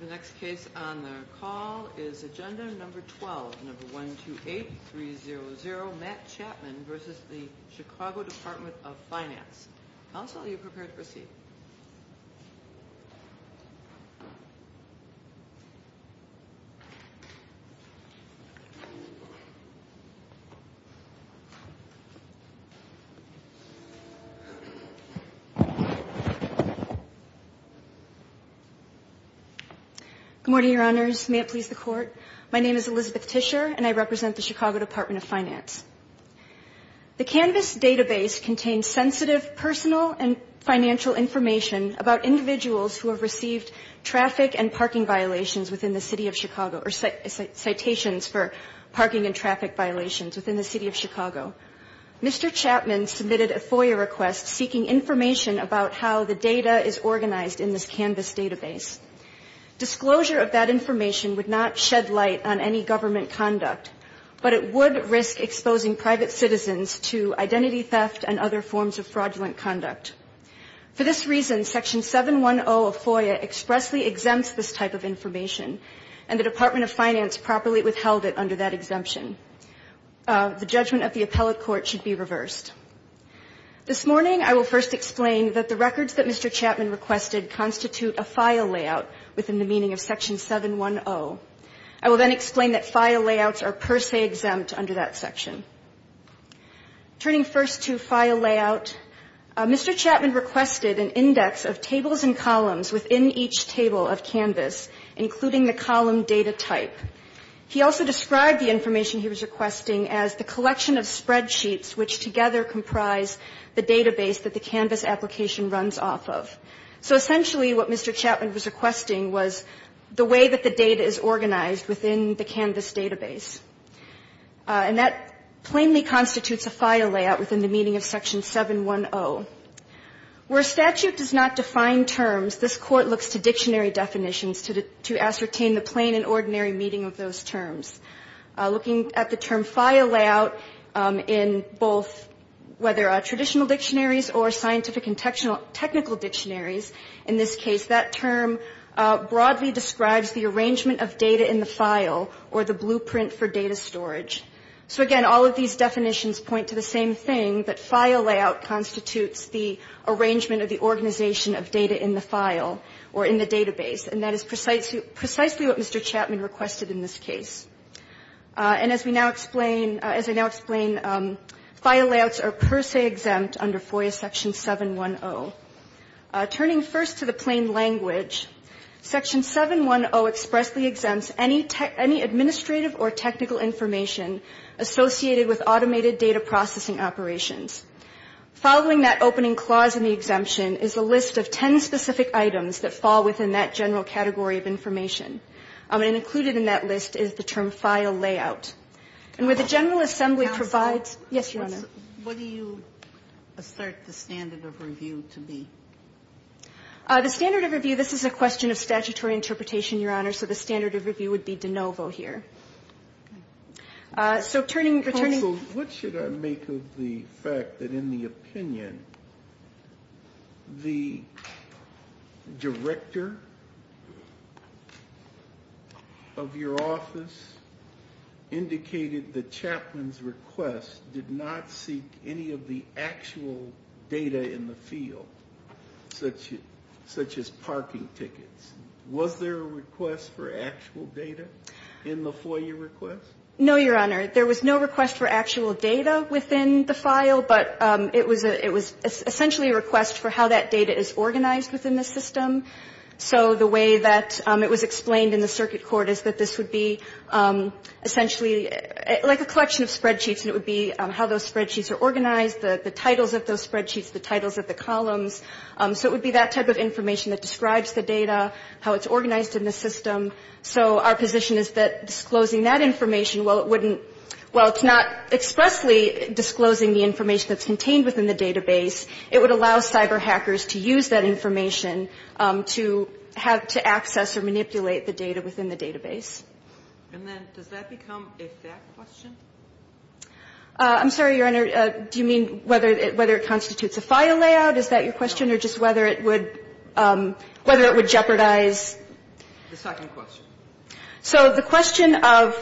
The next case on the call is Agenda 12-128300 Matt Chapman v. The Chicago Department of Finance. Counsel, are you prepared to proceed? Good morning, Your Honors. May it please the Court? My name is Elizabeth Tischer, and I represent the Chicago Department of Finance. The Canvas database contains sensitive personal and financial information about individuals who have received traffic and parking violations within the city of Chicago, or citations for parking and traffic violations within the city of Chicago. Mr. Chapman submitted a FOIA request seeking information about how the data is organized in this Canvas database. Disclosure of that information would not shed light on any government conduct, but it would risk exposing private citizens to identity theft and other forms of fraudulent conduct. For this reason, Section 710 of FOIA expressly exempts this type of information, and the Department of Finance properly withheld it under that exemption. The judgment of the appellate court should be reversed. This morning, I will first explain that the records that Mr. Chapman requested constitute a FOIA layout within the meaning of Section 710. I will then explain that FOIA layouts are per se exempt under that section. Turning first to FOIA layout, Mr. Chapman requested an index of tables and columns within each table of Canvas, including the column data type. He also described the information he was requesting as the collection of spreadsheets, which together comprise the database that the Canvas application runs off of. So essentially what Mr. Chapman was requesting was the way that the data is organized within the Canvas database, and that plainly constitutes a FOIA layout within the meaning of Section 710. Where statute does not define terms, this Court looks to dictionary definitions to ascertain the plain and ordinary meaning of those terms. Looking at the term FOIA layout in both whether traditional dictionaries or scientific and technical dictionaries, in this case that term broadly describes the arrangement of data in the file or the blueprint for data storage. So again, all of these definitions point to the same thing, that file layout constitutes the arrangement of the organization of data in the file or in the database. And that is precisely what Mr. Chapman requested in this case. And as we now explain, as I now explain, file layouts are per se exempt under FOIA Section 710. Turning first to the plain language, Section 710 expressly exempts any administrative or technical information associated with automated data processing operations. Following that opening clause in the exemption is a list of ten specific items that fall within that general category of information. And included in that list is the term file layout. And where the General Assembly provides — The standard of review, this is a question of statutory interpretation, Your Honor, so the standard of review would be de novo here. So turning — Counsel, what should I make of the fact that in the opinion, the director of your office indicated that Chapman's request did not seek any of the actual data in the field, such as parking tickets. Was there a request for actual data in the FOIA request? No, Your Honor. There was no request for actual data within the file, but it was essentially a request for how that data is organized within the system. So the way that it was explained in the circuit court is that this would be essentially like a collection of spreadsheets, and it would be how those spreadsheets are organized, the titles of those spreadsheets, the titles of the columns. So it would be that type of information that describes the data, how it's organized in the system. So our position is that disclosing that information, while it wouldn't — while it's not expressly disclosing the information that's contained within the database, it would allow cyber hackers to use that information to have — to access or manipulate the data within the database. And then does that become a fact question? I'm sorry, Your Honor. Do you mean whether it constitutes a FOIA layout? Is that your question, or just whether it would jeopardize — The second question. So the question of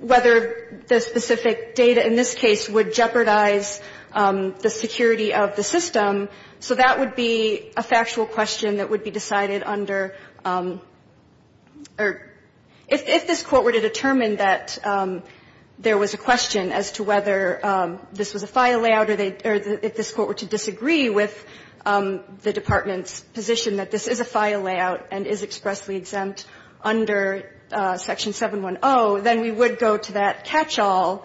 whether the specific data in this case would jeopardize the security of the system, so that would be a factual question that would be decided under — or if this Court were to determine that there was a question as to whether this was a FOIA layout or if this Court were to disagree with the Department's position that this is a FOIA layout and is expressly exempt under Section 710, then we would go to that catch-all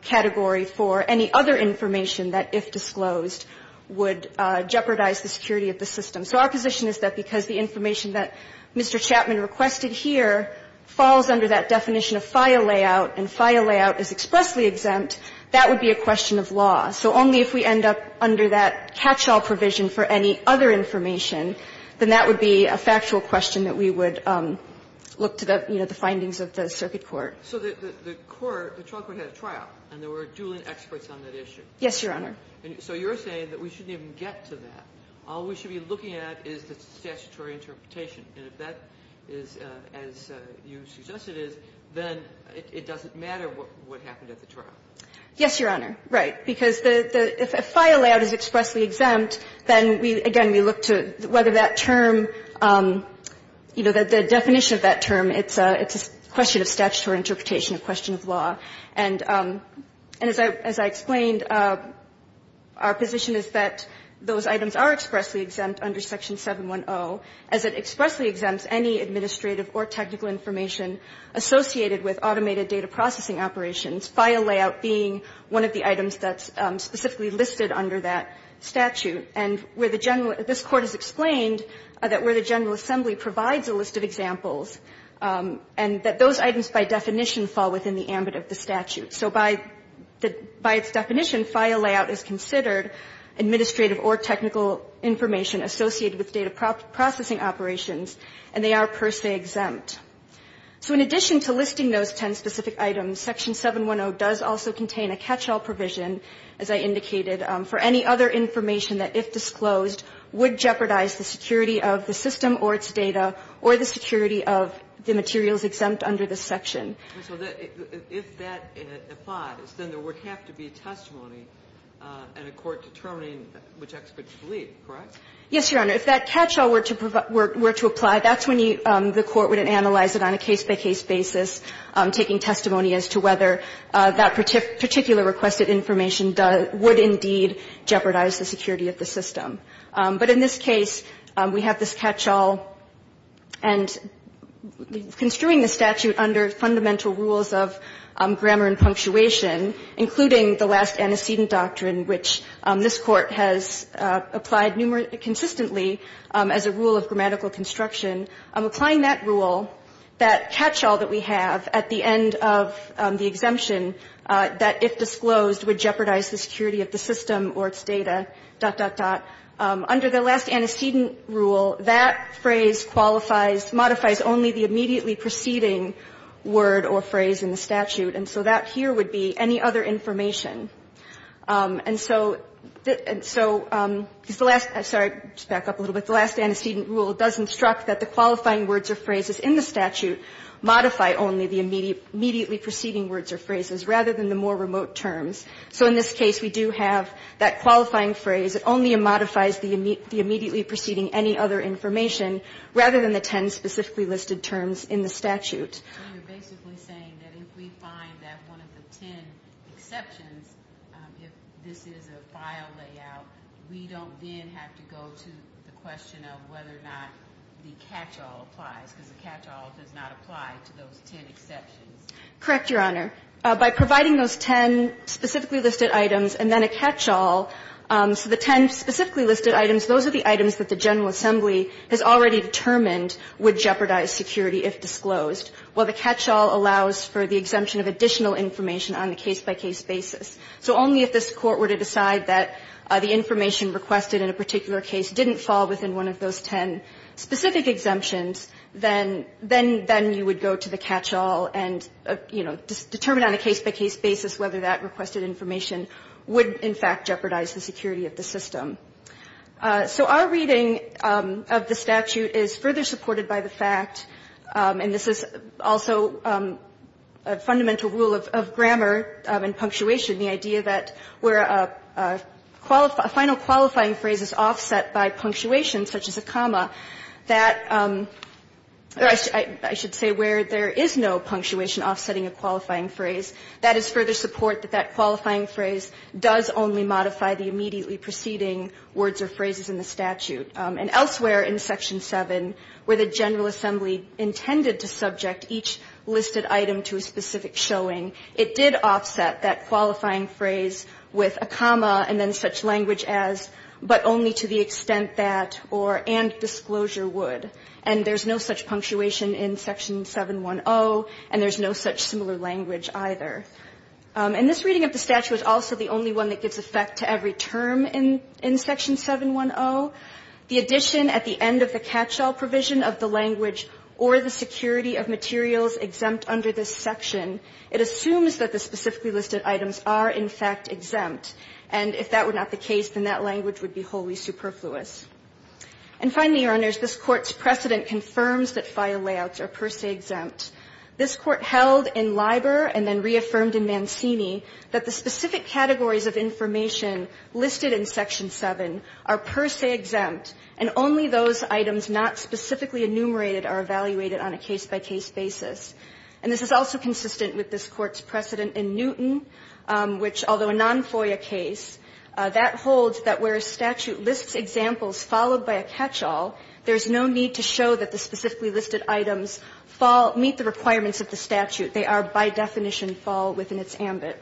category for any other information that, if disclosed, would jeopardize the security of the system. So our position is that because the information that Mr. Chapman requested here falls under that definition of FOIA layout and FOIA layout is expressly exempt, that would be a question of law. So only if we end up under that catch-all provision for any other information, then that would be a factual question that we would look to the, you know, the findings of the circuit court. So the court, the trial court had a trial, and there were dueling experts on that issue. Yes, Your Honor. So you're saying that we shouldn't even get to that. All we should be looking at is the statutory interpretation. And if that is as you suggest it is, then it doesn't matter what happened at the trial. Yes, Your Honor, right. Because the, if FOIA layout is expressly exempt, then we, again, we look to whether that term, you know, the definition of that term, it's a question of statutory interpretation, a question of law. And as I explained, our position is that those items are expressly exempt under Section 710, as it expressly exempts any administrative or technical information associated with automated data processing operations, FOIA layout being one of the items that's specifically listed under that statute. And where the general, this Court has explained that where the General Assembly provides a list of examples, and that those items by definition fall within the ambit of the statute. So by the, by its definition, FOIA layout is considered administrative or technical information associated with data processing operations, and they are per se exempt. So in addition to listing those ten specific items, Section 710 does also contain a catch-all provision, as I indicated, for any other information that, if disclosed, would jeopardize the security of the system or its data or the security of the materials exempt under this section. And so if that applies, then there would have to be testimony in a court determining which expert to believe, correct? Yes, Your Honor. If that catch-all were to apply, that's when you, the Court would analyze it on a case-by-case basis, taking testimony as to whether that particular requested information would indeed jeopardize the security of the system. But in this case, we have this catch-all, and construing the statute under fundamental rules of grammar and punctuation, including the last antecedent doctrine which this Court has applied consistently as a rule of grammatical construction, applying that rule, that catch-all that we have at the end of the exemption that, if disclosed, would jeopardize the security of the system or its data, dot, dot, dot. Under the last antecedent rule, that phrase qualifies, modifies only the immediately preceding word or phrase in the statute, and so that here would be any other information. And so, because the last, sorry, to back up a little bit, the last antecedent rule does instruct that the qualifying words or phrases in the statute modify only the immediately preceding words or phrases rather than the more remote terms. So in this case, we do have that qualifying phrase. It only modifies the immediately preceding any other information rather than the ten specifically listed terms in the statute. And you're basically saying that if we find that one of the ten exceptions, if this is a file layout, we don't then have to go to the question of whether or not the catch-all applies, because the catch-all does not apply to those ten exceptions. Correct, Your Honor. By providing those ten specifically listed items and then a catch-all, so the ten specifically listed items, those are the items that the General Assembly has already determined would jeopardize security if disclosed, while the catch-all allows for the exemption of additional information on a case-by-case basis. So only if this Court were to decide that the information requested in a particular case didn't fall within one of those ten specific exemptions, then you would go to the catch-all and, you know, determine on a case-by-case basis whether that requested information would, in fact, jeopardize the security of the system. So our reading of the statute is further supported by the fact, and this is also a fundamental rule of grammar and punctuation, the idea that where a final qualifying phrase is offset by punctuation, such as a comma, that I should say where there is no punctuation offsetting a qualifying phrase, that is further support that that qualifying phrase does only modify the immediately preceding words or phrases in the statute. And elsewhere in Section 7, where the General Assembly intended to subject each listed item to a specific showing, it did offset that qualifying phrase with a comma and then such language as, but only to the extent that, or and disclosure would. And there is no such punctuation in Section 710, and there is no such similar language either. And this reading of the statute is also the only one that gives effect to every term in Section 710. The addition at the end of the catch-all provision of the language, or the security of materials exempt under this section, it assumes that the specifically listed items are, in fact, exempt. And if that were not the case, then that language would be wholly superfluous. And finally, Your Honors, this Court's precedent confirms that file layouts are per se exempt. This Court held in Liber, and then reaffirmed in Mancini, that the specific categories of information listed in Section 7 are per se exempt, and only those items not specifically enumerated are evaluated on a case-by-case basis. And this is also consistent with this Court's precedent in Newton, which, although a non-FOIA case, that holds that where a statute lists examples followed by a catch-all, there is no need to show that the specifically listed items meet the requirements of the statute. They are, by definition, fall within its ambit.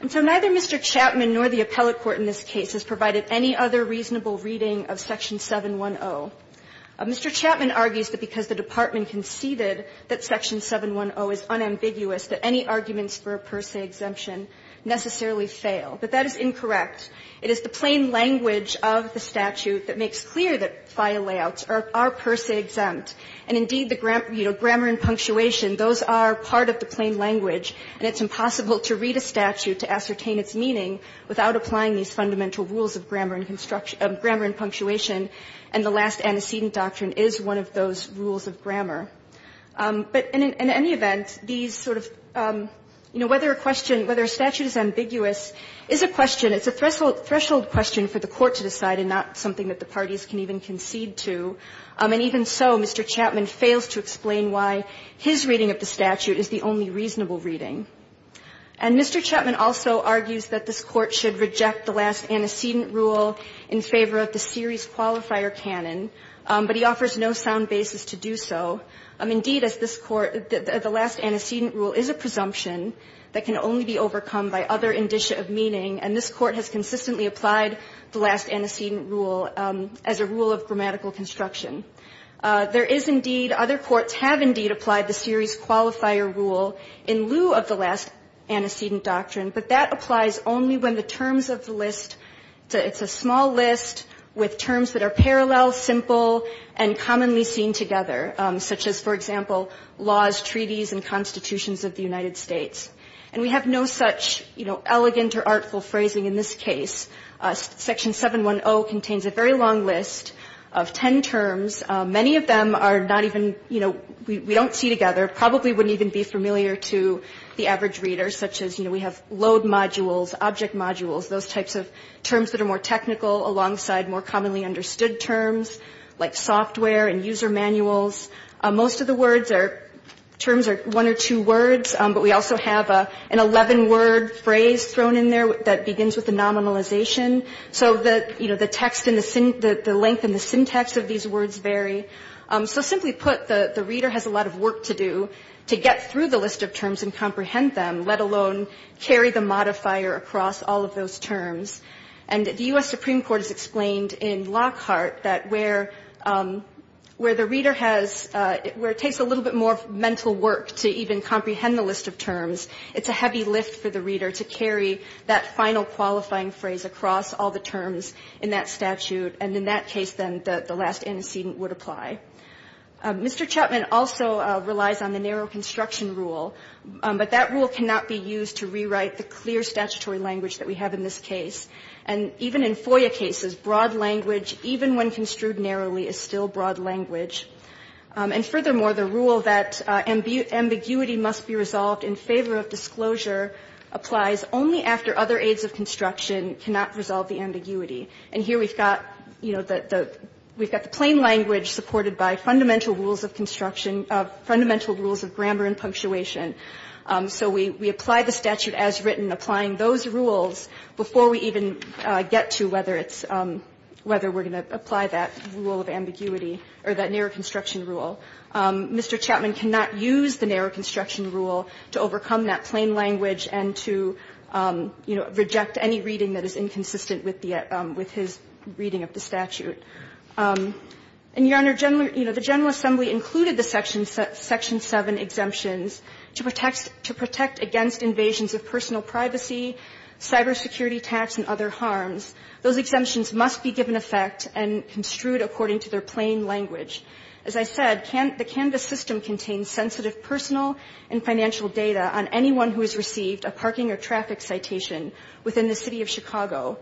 And so neither Mr. Chapman nor the appellate court in this case has provided any other reasonable reading of Section 710. Mr. Chapman argues that because the Department conceded that Section 710 is unambiguous, that any arguments for a per se exemption necessarily fail. But that is incorrect. It is the plain language of the statute that makes clear that file layouts are per se exempt. And indeed, the, you know, grammar and punctuation, those are part of the plain language, and it's impossible to read a statute to ascertain its meaning without applying these fundamental rules of grammar and punctuation. And the last antecedent doctrine is one of those rules of grammar. But in any event, these sort of, you know, whether a question, whether a statute is ambiguous is a question, it's a threshold question for the Court to decide and not something that the parties can even concede to. And even so, Mr. Chapman fails to explain why his reading of the statute is the only reasonable reading. And Mr. Chapman also argues that this Court should reject the last antecedent rule in favor of the series qualifier canon, but he offers no sound basis to do so. Indeed, as this Court, the last antecedent rule is a presumption that can only be overcome by other indicia of meaning, and this Court has consistently applied the last antecedent rule as a rule of grammatical construction. There is indeed, other courts have indeed applied the series qualifier rule in lieu of the last antecedent doctrine, but that applies only when the terms of the list to the – it's a small list with terms that are parallel, simple, and commonly seen together, such as, for example, laws, treaties, and constitutions of the United States. And we have no such, you know, elegant or artful phrasing in this case. Section 710 contains a very long list of ten terms. Many of them are not even, you know, we don't see together, probably wouldn't even be familiar to the average reader, such as, you know, we have load modules, object modules, those types of terms that are more technical alongside more commonly understood terms, like software and user manuals. Most of the words are – terms are one or two words, but we also have an 11-word phrase thrown in there that begins with the nominalization, so that, you know, the text and the – the length and the syntax of these words vary. So simply put, the reader has a lot of work to do to get through the list of terms and comprehend them, let alone carry the modifier across all of those terms. And the U.S. Supreme Court has explained in Lockhart that where – where the reader has – where it takes a little bit more mental work to even comprehend the list of terms, it's a heavy lift for the reader to carry that final qualifying phrase across all the terms in that statute, and in that case, then, the last antecedent would apply. Mr. Chapman also relies on the narrow construction rule, but that rule cannot be used to rewrite the clear statutory language that we have in this case. And even in FOIA cases, broad language, even when construed narrowly, is still broad language. And furthermore, the rule that ambiguity must be resolved in favor of disclosure applies only after other aids of construction cannot resolve the ambiguity. And here we've got, you know, the – we've got the plain language supported by fundamental rules of construction – fundamental rules of grammar and punctuation. So we apply the statute as written, applying those rules before we even get to whether or not there is ambiguity or that narrow construction rule. Mr. Chapman cannot use the narrow construction rule to overcome that plain language and to, you know, reject any reading that is inconsistent with the – with his reading of the statute. And, Your Honor, generally, you know, the General Assembly included the section – section 7 exemptions to protect – to protect against invasions of personal privacy, cybersecurity tax, and other harms. Those exemptions must be given effect and construed according to their plain language. As I said, the Canvas system contains sensitive personal and financial data on anyone who has received a parking or traffic citation within the City of Chicago.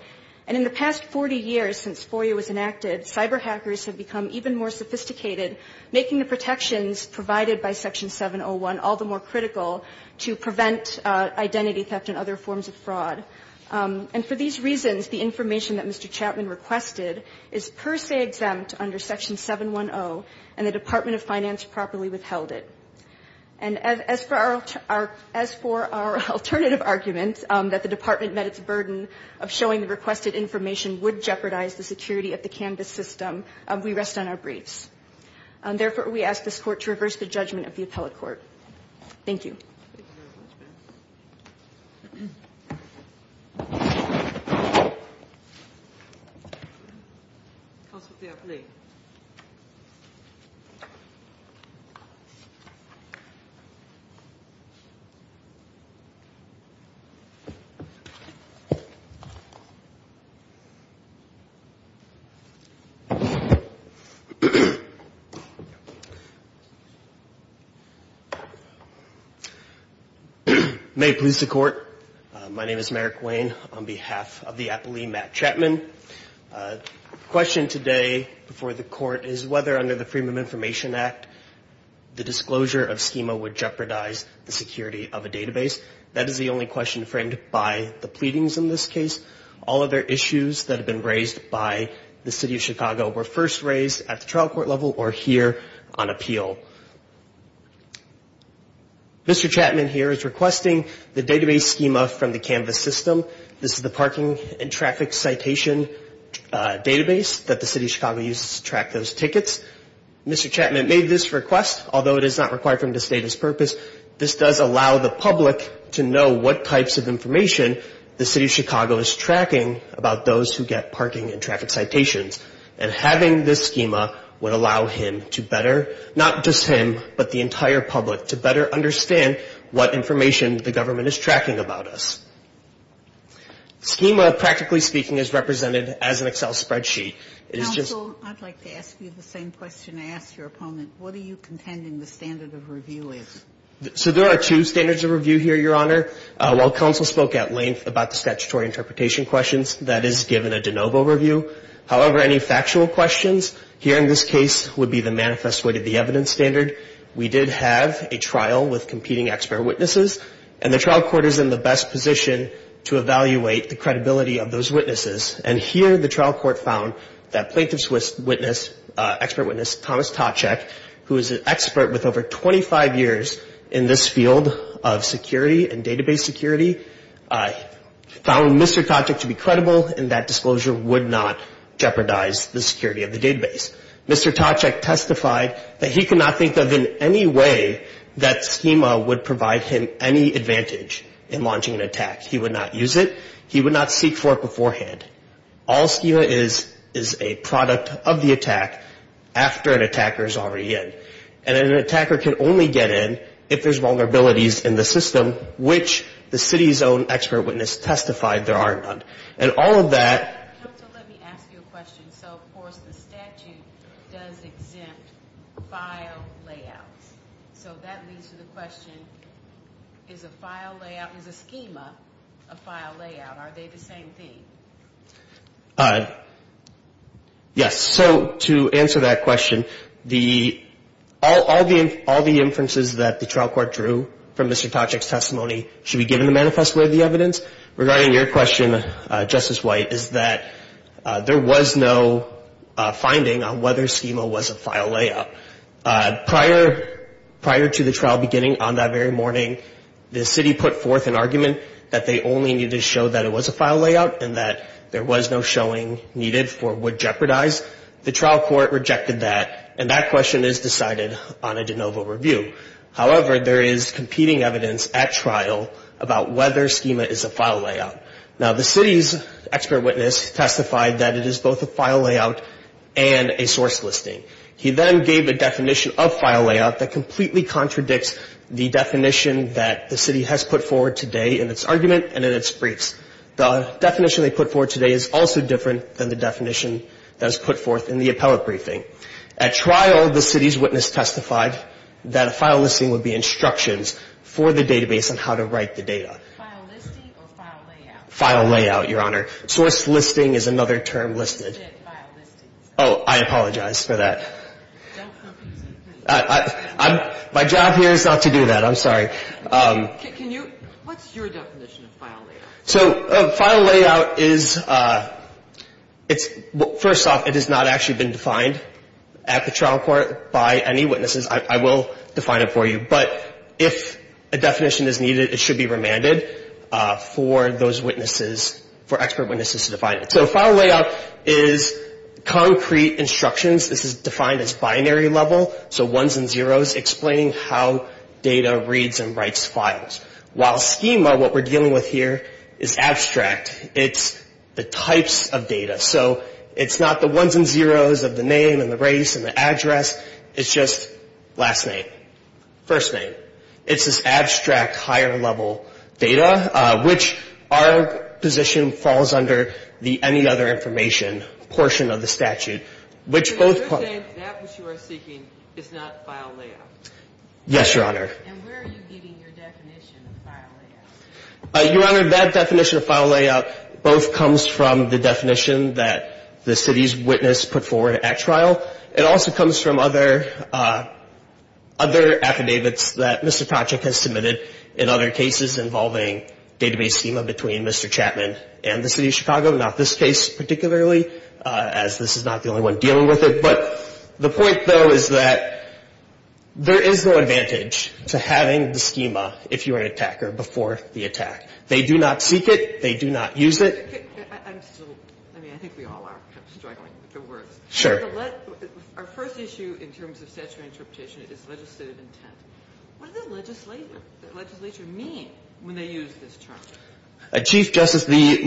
And in the past 40 years since FOIA was enacted, cyber hackers have become even more sophisticated, making the protections provided by Section 701 all the more critical to prevent identity theft and other forms of fraud. And for these reasons, the information that Mr. Chapman requested is per se exempt under Section 710, and the Department of Finance properly withheld it. And as for our – as for our alternative argument, that the Department met its burden of showing the requested information would jeopardize the security of the Canvas system, we rest on our briefs. Therefore, we ask this Court to reverse the judgment of the appellate court. Thank you. Thank you very much, ma'am. Counsel to the appellate. May it please the Court. My name is Merrick Wayne on behalf of the appellee, Matt Chapman. The question today before the Court is whether under the Freedom of Information Act, the disclosure of schema would jeopardize the security of a database. That is the only question framed by the pleadings in this case. All other issues that have been raised by the City of Chicago were first raised at the trial court level or here on appeal. Mr. Chapman here is requesting the database schema from the Canvas system. This is the parking and traffic citation database that the City of Chicago uses to track those tickets. Mr. Chapman made this request, although it is not required from this data's purpose. This does allow the public to know what types of information the City of Chicago is tracking about those who get parking and traffic citations. And having this schema would allow him to better, not just him, but the entire public to better understand what information the government is tracking about us. Schema, practically speaking, is represented as an Excel spreadsheet. Counsel, I'd like to ask you the same question I asked your opponent. What are you contending the standard of review is? So there are two standards of review here, Your Honor. While counsel spoke at length about the statutory interpretation questions, that is given a de novo review. However, any factual questions here in this case would be the manifest way to the evidence standard. We did have a trial with competing expert witnesses, and the trial court is in the best position to evaluate the credibility of those witnesses. And here the trial court found that plaintiff's witness, expert witness, Thomas Toczek, who is an expert with over 25 years in this field of security and database security, found Mr. Toczek to be credible, and that disclosure would not jeopardize the security of the database. Mr. Toczek testified that he could not think of in any way that schema would provide him any advantage in launching an attack. He would not use it. He would not seek for it beforehand. All schema is is a product of the attack after an attacker is already in. And an attacker can only get in if there's vulnerabilities in the system, which the city's own expert witness testified there are none. And all of that... Counsel, let me ask you a question. So, of course, the statute does exempt file layouts. So that leads to the question, is a file layout, is a schema a file layout? Are they the same thing? Yes. So to answer that question, all the inferences that the trial court drew from Mr. Toczek's testimony should be given the manifest way of the evidence. Regarding your question, Justice White, is that there was no finding on whether schema was a file layout. Prior to the trial beginning on that very morning, the city put forth an argument that they only needed to show that it was a file layout and that there was no showing needed for what jeopardized. The trial court rejected that, and that question is decided on a de novo review. However, there is competing evidence at trial about whether schema is a file layout. Now, the city's expert witness testified that it is both a file layout and a source listing. He then gave a definition of file layout that completely contradicts the definition that the city has put forward today in its argument and in its briefs. The definition they put forward today is also different than the definition that was put forth in the appellate briefing. At trial, the city's witness testified that a file listing would be instructions for the database on how to write the data. File listing or file layout? File layout, Your Honor. Source listing is another term listed. File listing. Oh, I apologize for that. Don't confuse me. My job here is not to do that. I'm sorry. Can you, what's your definition of file layout? So, file layout is, first off, it has not actually been defined. At the trial court, by any witnesses, I will define it for you. But if a definition is needed, it should be remanded for those witnesses, for expert witnesses to define it. So, file layout is concrete instructions. This is defined as binary level, so ones and zeros, explaining how data reads and writes files. While schema, what we're dealing with here, is abstract. It's the types of data. So, it's not the ones and zeros of the name and the race and the address. It's just last name, first name. It's this abstract, higher level data, which our position falls under the any other information portion of the statute. So, you're saying that what you are seeking is not file layout? Yes, Your Honor. And where are you getting your definition of file layout? Your Honor, that definition of file layout, both comes from the definition that the city's witness put forward at trial. It also comes from other affidavits that Mr. Toczek has submitted in other cases involving database schema between Mr. Chapman and the City of Chicago. Not this case, particularly, as this is not the only one dealing with it. But the point, though, is that there is no advantage to having the schema, if you're an attacker, before the attack. They do not seek it. They do not use it. I mean, I think we all are kind of struggling with the words. Sure. Our first issue in terms of statutory interpretation is legislative intent. What does the legislature mean when they use this term? Chief Justice, the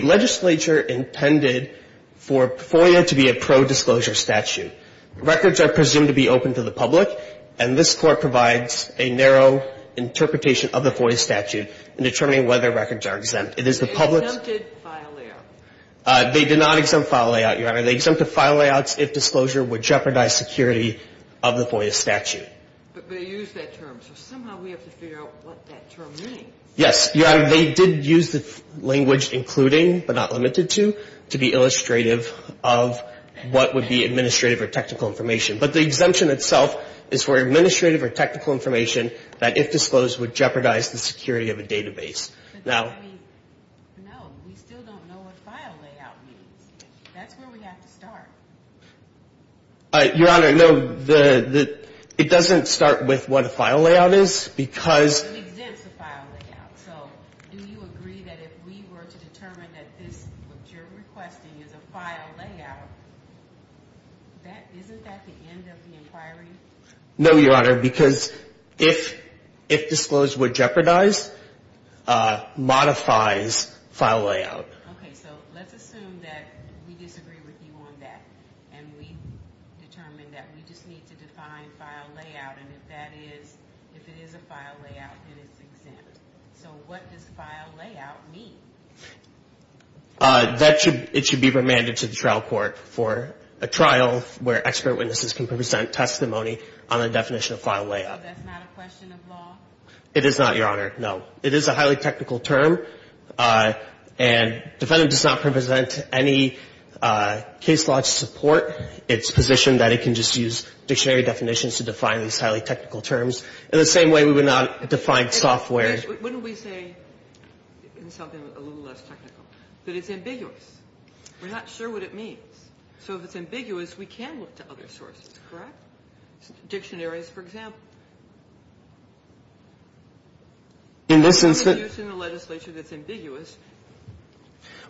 legislature intended for FOIA to be a pro-disclosure statute. Records are presumed to be open to the public, and this Court provides a narrow interpretation of the FOIA statute in determining whether records are exempt. It is the public's- They exempted file layout. They did not exempt file layout, Your Honor. They exempted file layouts if disclosure would jeopardize security of the FOIA statute. But they used that term, so somehow we have to figure out what that term means. Yes, Your Honor. They did use the language including, but not limited to, to be illustrative of what would be administrative or technical information. But the exemption itself is for administrative or technical information that if disclosed would jeopardize the security of a database. Now- No, we still don't know what file layout means. That's where we have to start. Your Honor, no. It doesn't start with what a file layout is because- It exempts the file layout. So do you agree that if we were to determine that this, what you're requesting is a file layout, isn't that the end of the inquiry? No, Your Honor, because if disclosed would jeopardize, modifies file layout. Okay, so let's assume that we disagree with you on that and we determine that we just need to define file layout and if that is, if it is a file layout, then it's exempt. So what does file layout mean? That should, it should be remanded to the trial court for a trial where expert witnesses can present testimony on the definition of file layout. So that's not a question of law? It is not, Your Honor, no. It is a highly technical term and defendant does not present any case law to support its position that it can just use dictionary definitions to define these highly technical terms. In the same way we would not define software- Wouldn't we say, in something a little less technical, that it's ambiguous? We're not sure what it means. So if it's ambiguous, we can look to other sources, correct? Dictionaries, for example. In this instance- If it's used in a legislature that's ambiguous,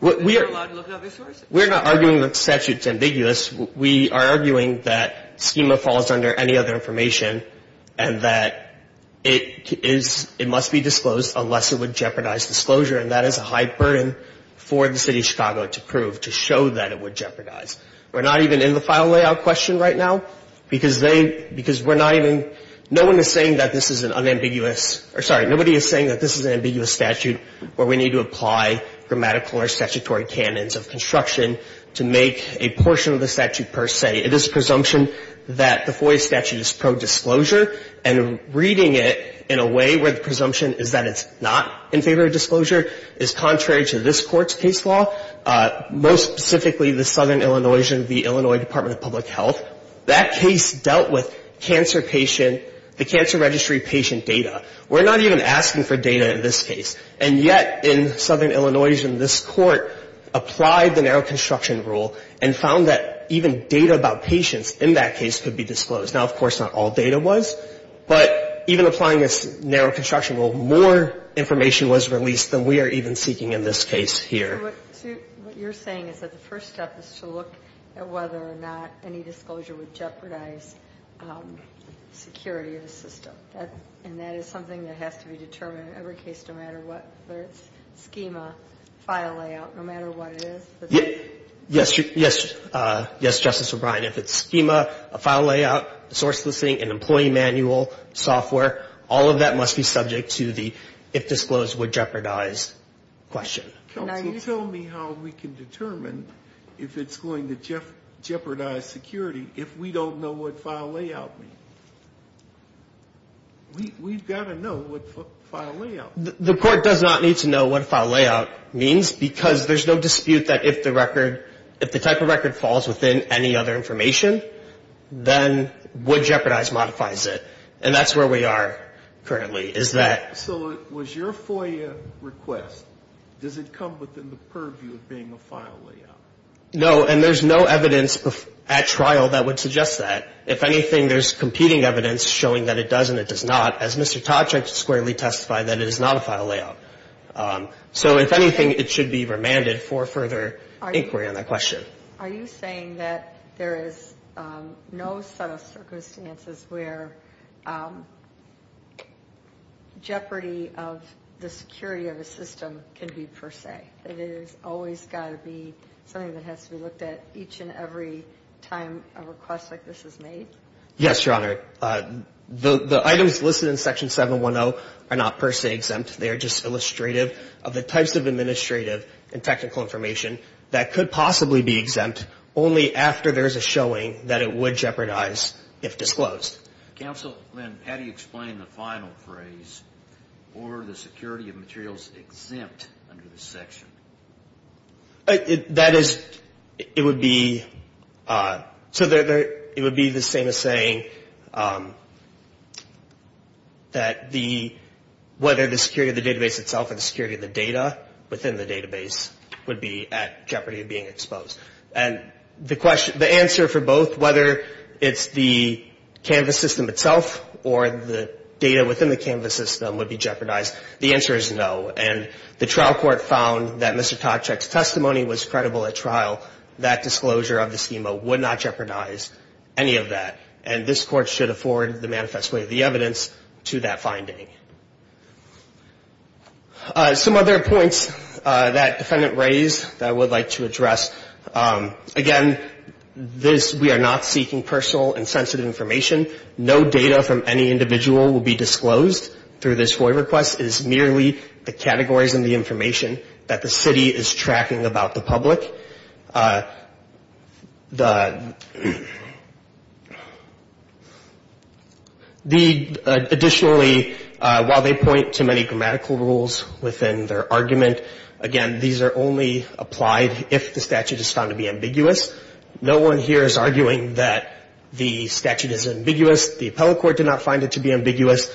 we're allowed to look at other sources. We're not arguing that the statute's ambiguous. We are arguing that schema falls under any other information and that it is, it must be disclosed unless it would jeopardize disclosure and that is a high burden for the City of Chicago to prove, to show that it would jeopardize. We're not even in the file layout question right now because they, because we're not even, no one is saying that this is an unambiguous, or sorry, nobody is saying that this is an ambiguous statute where we need to apply grammatical or statutory canons of construction to make a portion of the statute per se. It is a presumption that the FOIA statute is pro-disclosure and reading it in a way where the presumption is that it's not in favor of disclosure is contrary to this Court's case law, most specifically the Southern Illinoisian, the Illinois Department of Public Health. That case dealt with cancer patient, the cancer registry patient data. We're not even asking for data in this case. And yet, in Southern Illinoisian, this Court applied the narrow construction rule and found that even data about patients in that case could be disclosed. Now, of course, not all data was, but even applying this narrow construction rule, more information was released than we are even seeking in this case here. So what you're saying is that the first step is to look at whether or not any disclosure would jeopardize security of the system. And that is something that has to be determined in every case, no matter what, whether it's schema, file layout, no matter what it is? Yes, Justice O'Brien. If it's schema, a file layout, source listing, an employee manual, software, all of that must be subject to the if disclosed would jeopardize question. Counsel, tell me how we can determine if it's going to jeopardize security if we don't know what file layout means. We've got to know what file layout means. The Court does not need to know what file layout means because there's no dispute that if the record, if the record falls within any other information, then would jeopardize modifies it. And that's where we are currently, is that... So was your FOIA request, does it come within the purview of being a file layout? No, and there's no evidence at trial that would suggest that. If anything, there's competing evidence showing that it does and it does not, as Mr. Toczek squarely testified, that it is not a file layout. So if anything, it should be remanded for further inquiry on that question. Are you saying that there is no set of circumstances where jeopardy of the security of a system can be per se? It has always got to be something that has to be looked at each and every time a request like this is made? Yes, Your Honor. The items listed in Section 710 are not per se exempt. They are just illustrative of the types of administrative and technical information that could possibly be exempt only after there is a showing that it would jeopardize if disclosed. Counsel, then how do you explain the final phrase for the security of materials exempt under this section? That is, it would be... So it would be the same as saying that the... whether the security of the database itself or the security of the data within the database would be at jeopardy of being exposed. And the answer for both, whether it's the Canvas system itself or the data within the Canvas system would be jeopardized, the answer is no. And the trial court found that Mr. Toczek's testimony was credible at trial. That disclosure of the schema would not jeopardize any of that. And this Court should afford the manifest way of the evidence to that finding. Some other points that Defendant raised that I would like to address. Again, we are not seeking personal and sensitive information. No data from any individual will be disclosed through this FOIA request. This is merely the categories and the information that the city is tracking about the public. Additionally, while they point to many grammatical rules within their argument, again, these are only applied if the statute is found to be ambiguous. No one here is arguing that the statute is ambiguous. The appellate court did not find it to be ambiguous.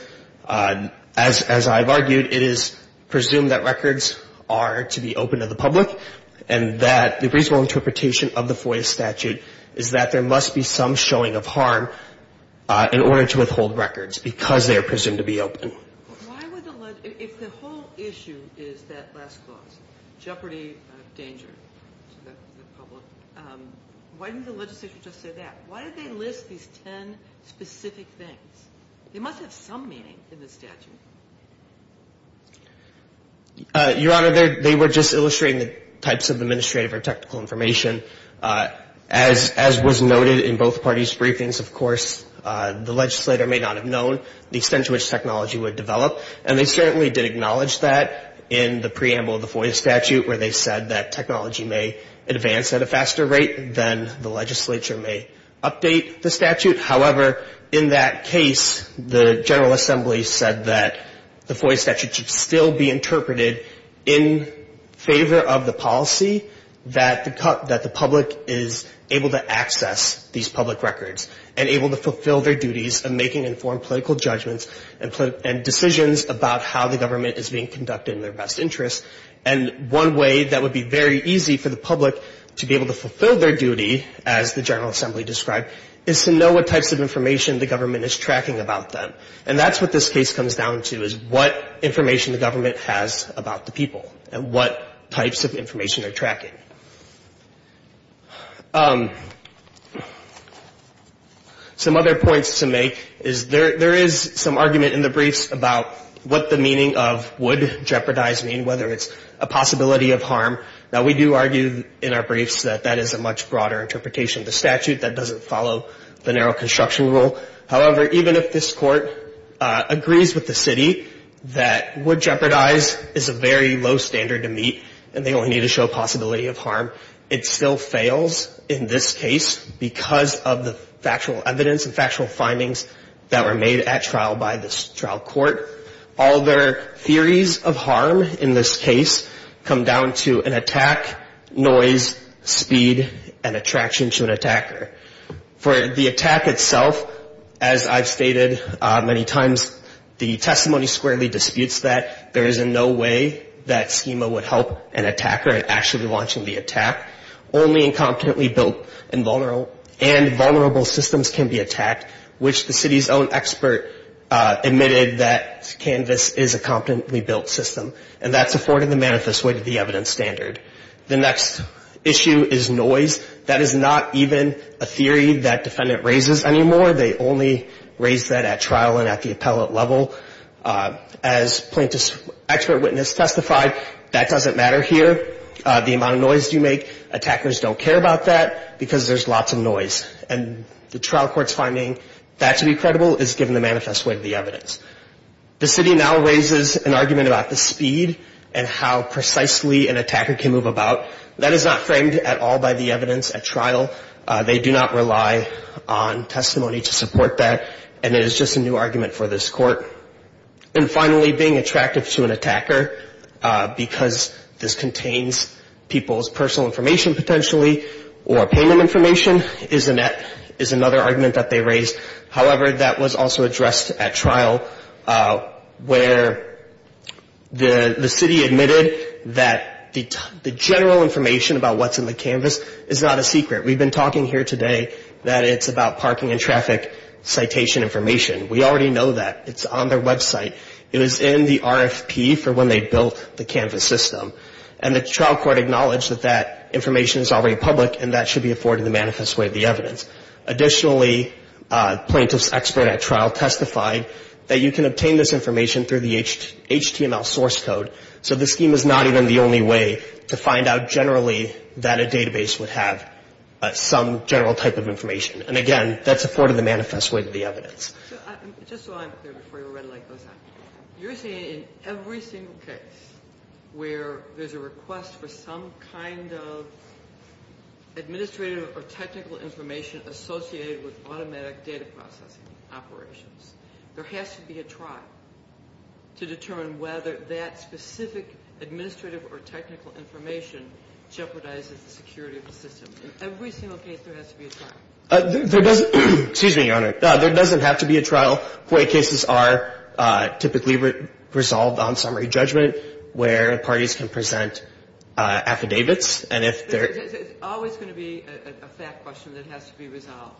As I've argued, it is presumed that records are to be open to the public and that the reasonable interpretation of the FOIA statute is that there must be some showing of harm in order to withhold records because they are presumed to be open. If the whole issue is that last clause, jeopardy of danger to the public, why didn't the legislature just say that? Why did they list these ten specific things? They must have some meaning in the statute. Your Honor, they were just illustrating the types of administrative or technical information. As was noted in both parties' briefings, of course, the legislator may not have known the extent to which technology would develop. And they certainly did acknowledge that in the preamble of the FOIA statute where they said that technology may advance at a faster rate than the legislature may update the statute. However, in that case, the General Assembly said that the FOIA statute should still be interpreted in favor of the policy that the public is able to access these public records and able to fulfill their duties in making informed political judgments and decisions about how the government is being conducted in their best interest. And one way that would be very easy for the public to be able to fulfill their duty, as the General Assembly described, is to know what types of information the government is tracking about them. And that's what this case comes down to, is what information the government has about the people and what types of information they're tracking. Some other points to make is there is some argument in the briefs about what the meaning of wood jeopardize means, whether it's a possibility of harm. Now, we do argue in our briefs that that is a much broader interpretation of the statute that doesn't follow the narrow construction rule. However, even if this Court agrees with the city that wood jeopardize is a very low standard to meet and they only need to show a possibility of harm, it still fails in this case because of the factual evidence and factual findings that were made at trial by this trial court. All their theories of harm in this case come down to an attack, noise, speed, and attraction to an attacker. For the attack itself, as I've stated many times, the testimony squarely disputes that there is in no way that schema would help an attacker in actually launching the attack. Only incompetently built and vulnerable systems can be attacked, which the city's own expert admitted that Canvas is a competently built system. And that's afforded the manifest way to the evidence standard. The next issue is noise. That is not even a theory that defendant raises anymore. They only raise that at trial and at the appellate level. As plaintiff's expert witness testified, that doesn't matter here. The amount of noise you make, attackers don't care about that because there's lots of noise. And the trial court's finding that to be credible is given the manifest way of the evidence. The city now raises an argument about the speed and how precisely an attacker can move about. That is not framed at all by the evidence at trial. They do not rely on testimony to support that. And it is just a new argument for this court. And finally, being attractive to an attacker because this contains people's personal information potentially or payment information is another argument that they raise. However, that was also addressed at trial where the city admitted that the general information about what's in the Canvas is not a secret. We've been talking here today that it's about parking and traffic citation information. We already know that. It's on their website. It was in the RFP for when they built the Canvas system. And the trial court acknowledged that that information is already public and that should be afforded the manifest way of the evidence. Additionally, plaintiff's expert at trial testified that you can obtain this information through the HTML source code. So the scheme is not even the only way to find out generally that a database would have some general type of information. And again, that's afforded the manifest way of the evidence. Just so I'm clear before your red light goes out. You're saying in every single case where there's a request for some kind of administrative or technical information associated with automatic data processing operations, there has to be a trial to determine whether that specific administrative or technical information jeopardizes the security of the system. In every single case, there has to be a trial. There doesn't have to be a trial. Court cases are typically resolved on summary judgment where parties can present affidavits. It's always going to be a fact question that has to be resolved.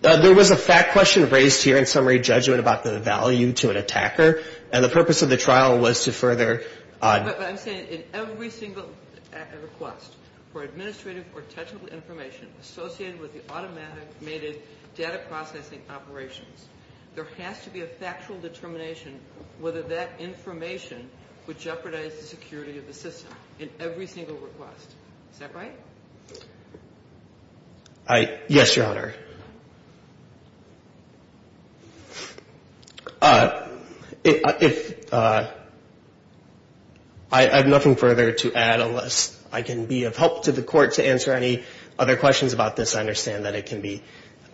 There was a fact question raised here in summary judgment about the value to an attacker. And the purpose of the trial was to further... I'm saying in every single request for administrative or technical information associated with the automated data processing operations. There has to be a factual determination whether that information would jeopardize the security of the system in every single request. Is that right? Yes, Your Honor. I have nothing further to add unless I can be of help to the Court to answer any other questions about this. I understand that it can be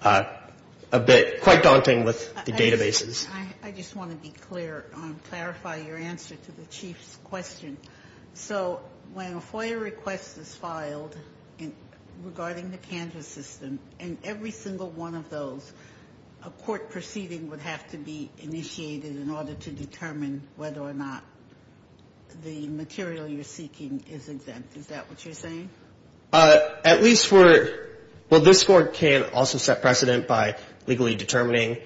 quite daunting with the databases. I just want to clarify your answer to the Chief's question. So when a FOIA request is filed regarding the Canvas system, in every single one of those, a court proceeding would have to be initiated in order to determine whether or not the material you're seeking is exempt. Is that what you're saying? Well, this Court can also set precedent by legally determining...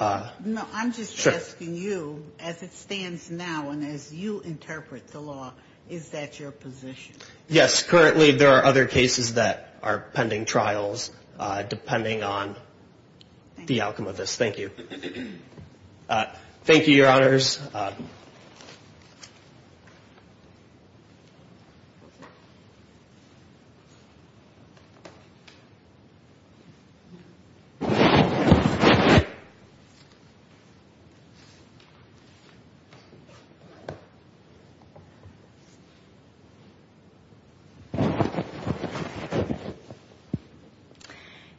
No, I'm just asking you, as it stands now and as you interpret the law, is that your position? Yes. Currently there are other cases that are pending trials depending on the outcome of this. Thank you. Thank you, Your Honors.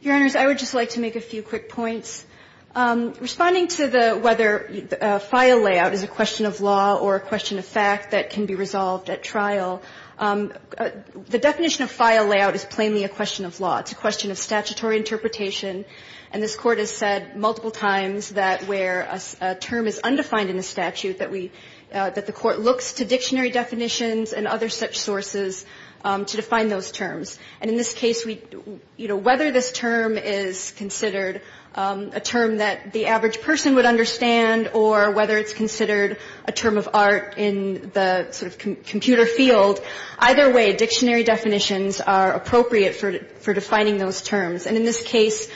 Your Honors, I would just like to make a few quick points. Responding to the whether FOIA layout is a question of law or a question of fact that can be resolved at trial, a question of whether FOIA layout is a question of law. The definition of FOIA layout is plainly a question of law. It's a question of statutory interpretation. And this Court has said multiple times that where a term is undefined in the statute that the Court looks to dictionary definitions and other such sources to define those terms. And in this case, whether this term is considered a term that the average person would understand or whether it's considered a term of art in the sort of computer field, either way, dictionary definitions are appropriate for defining those terms. And in this case,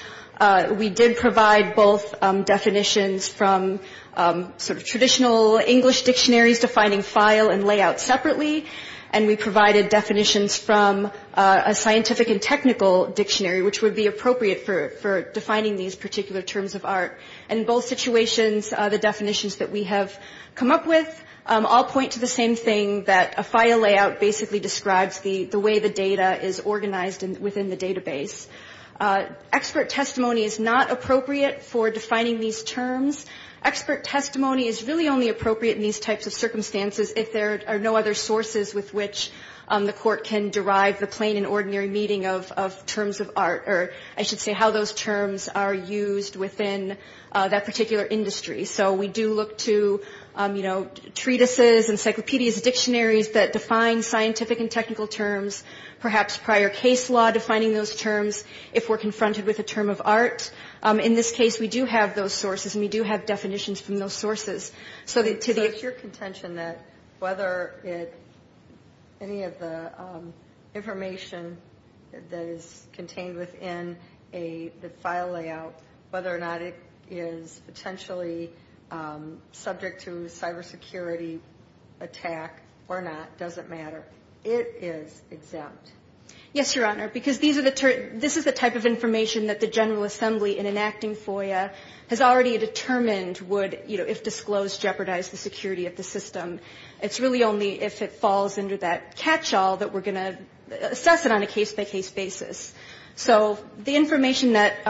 we did provide both definitions from sort of traditional English dictionaries defining file and layout separately. And we provided definitions from a scientific and technical dictionary, which would be appropriate for defining these particular terms of art. And in both situations, the definitions that we have come up with all point to the same thing, that a FOIA layout basically describes the way the data is organized within the database. Expert testimony is not appropriate for defining these terms. Expert testimony is really only appropriate in these types of circumstances if there are no other sources with which the Court can derive the plain and ordinary meaning of terms of art, or I should say how those terms are used within the particular industry. So we do look to treatises, encyclopedias, dictionaries that define scientific and technical terms, perhaps prior case law defining those terms if we're confronted with a term of art. In this case, we do have those sources and we do have definitions from those sources. So it's your contention that whether any of the information that is contained within the file layout, whether or not it is potentially subject to cybersecurity attack or not, doesn't matter. It is exempt. Yes, Your Honor, because this is the type of information that the General Assembly in enacting FOIA has already determined would, you know, if disclosed, jeopardize the security of the system. It's really only if it falls under that catchall that we're going to assess it on a case-by-case basis. So the information that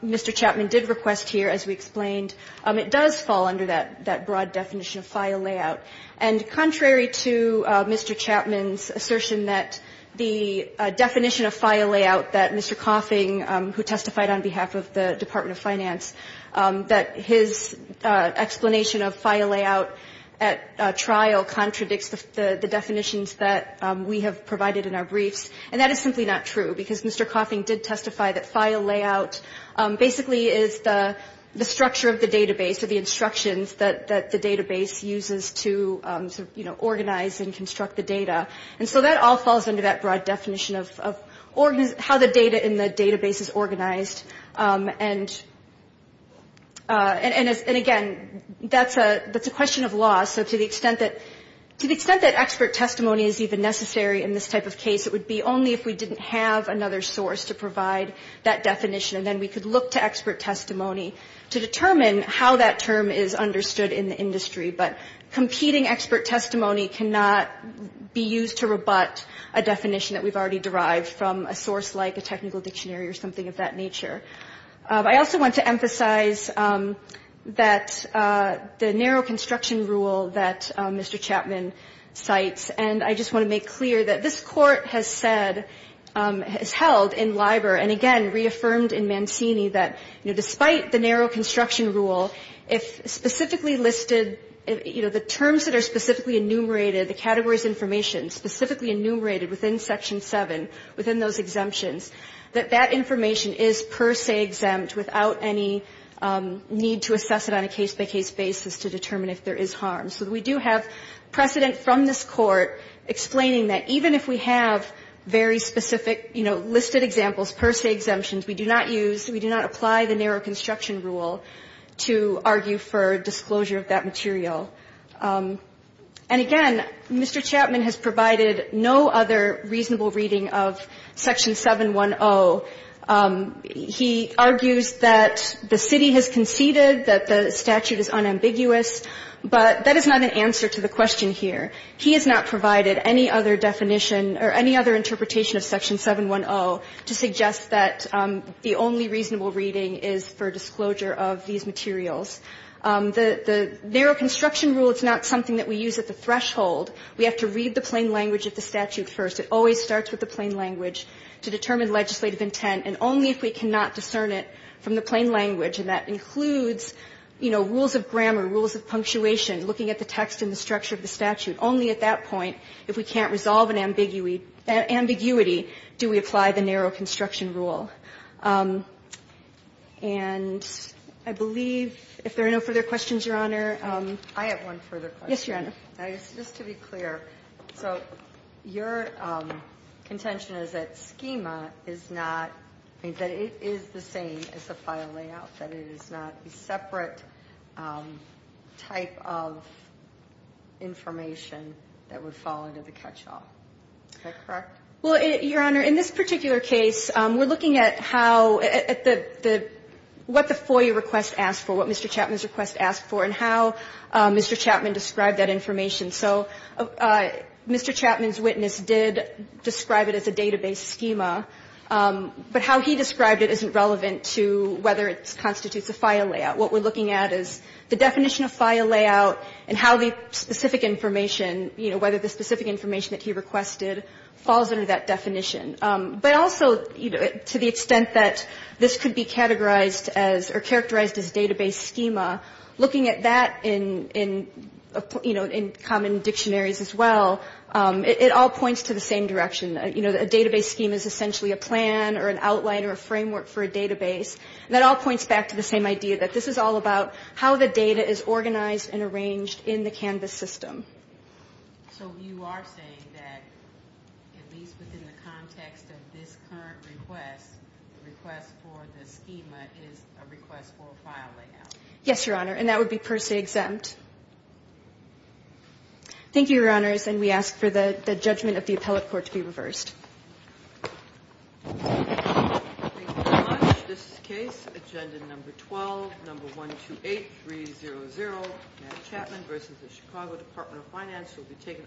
Mr. Chapman did request here, as we explained, it does fall under that broad definition of file layout. And contrary to Mr. Chapman's assertion that the definition of file layout that Mr. Coffing, who testified on behalf of the Department of Finance, that his explanation of file layout at trial contradicts the definitions that we have provided in our briefs. And that is simply not true, because Mr. Coffing did testify that file layout basically is the structure of the database or the instructions that the database uses to, you know, organize and construct the data. And so that all falls under that broad definition of how the data in the database is organized. And again, that's a question of law. So to the extent that expert testimony is even necessary in this type of case, it would be only if we didn't have another source to provide that definition, and then we could look to expert testimony to determine how that term is understood in the industry. But competing expert testimony cannot be used to rebut a definition that we've already derived from a source like a technical dictionary or something of that nature. I also want to emphasize that the narrow construction rule that Mr. Chapman cites, and I just want to make clear that this Court has said, has held in LIBOR, and again reaffirmed in Mancini that, you know, despite the narrow construction rule, if specifically listed, you know, the terms that are specifically enumerated, the categories information specifically enumerated within Section 7, within those exemptions, that that information is per se exempt without any need to assess it on a case-by-case basis to determine if there is harm. So we do have precedent from this Court explaining that even if we have very specific, you know, listed examples, per se exemptions, we do not use, we do not apply the narrow construction rule to argue for disclosure of that material. And again, Mr. Chapman has provided no other reasonable reading of Section 710. He argues that the city has conceded, that the statute is unambiguous, but that is not an answer to the question here. He has not provided any other definition or any other interpretation of Section 710 to suggest that the only reasonable reading is for disclosure of these materials. The narrow construction rule is not something that we use at the threshold. We have to read the plain language of the statute first. It always starts with the plain language to determine legislative intent, and only if we cannot discern it from the plain language, and that includes, you know, rules of grammar, rules of punctuation, looking at the text and the structure of the statute, only at that point, if we can't resolve an ambiguity, do we apply the narrow construction rule. And I believe, if there are no further questions, Your Honor. I have one further question. Yes, Your Honor. Just to be clear. So your contention is that schema is not, that it is the same as the file layout, that it is not a separate type of information that would fall into the catch-all. Is that correct? Well, Your Honor, in this particular case, we're looking at how, at the, what the FOIA request asked for, what Mr. Chapman's request asked for, and how Mr. Chapman described that information. So Mr. Chapman's witness did describe it as a database schema, but how he described it isn't relevant to whether it constitutes a file layout. What we're looking at is the definition of file layout and how the specific information, you know, whether the specific information that he requested falls under that definition. But also, you know, to the extent that this could be categorized as, or characterized as database schema, looking at that in, you know, in common dictionaries as well, it all points to the same direction. You know, a database schema is essentially a plan or an outline or a framework for a database. And that all points back to the same idea, that this is all about how the data is organized and arranged in the Canvas system. So you are saying that, at least within the context of this current request, the request for the schema is a request for a file layout? Yes, Your Honor, and that would be per se exempt. Thank you, Your Honors. And we ask for the judgment of the appellate court to be reversed. Thank you very much. This case, Agenda Number 12, Number 128300, Matt Chapman v. The Chicago Department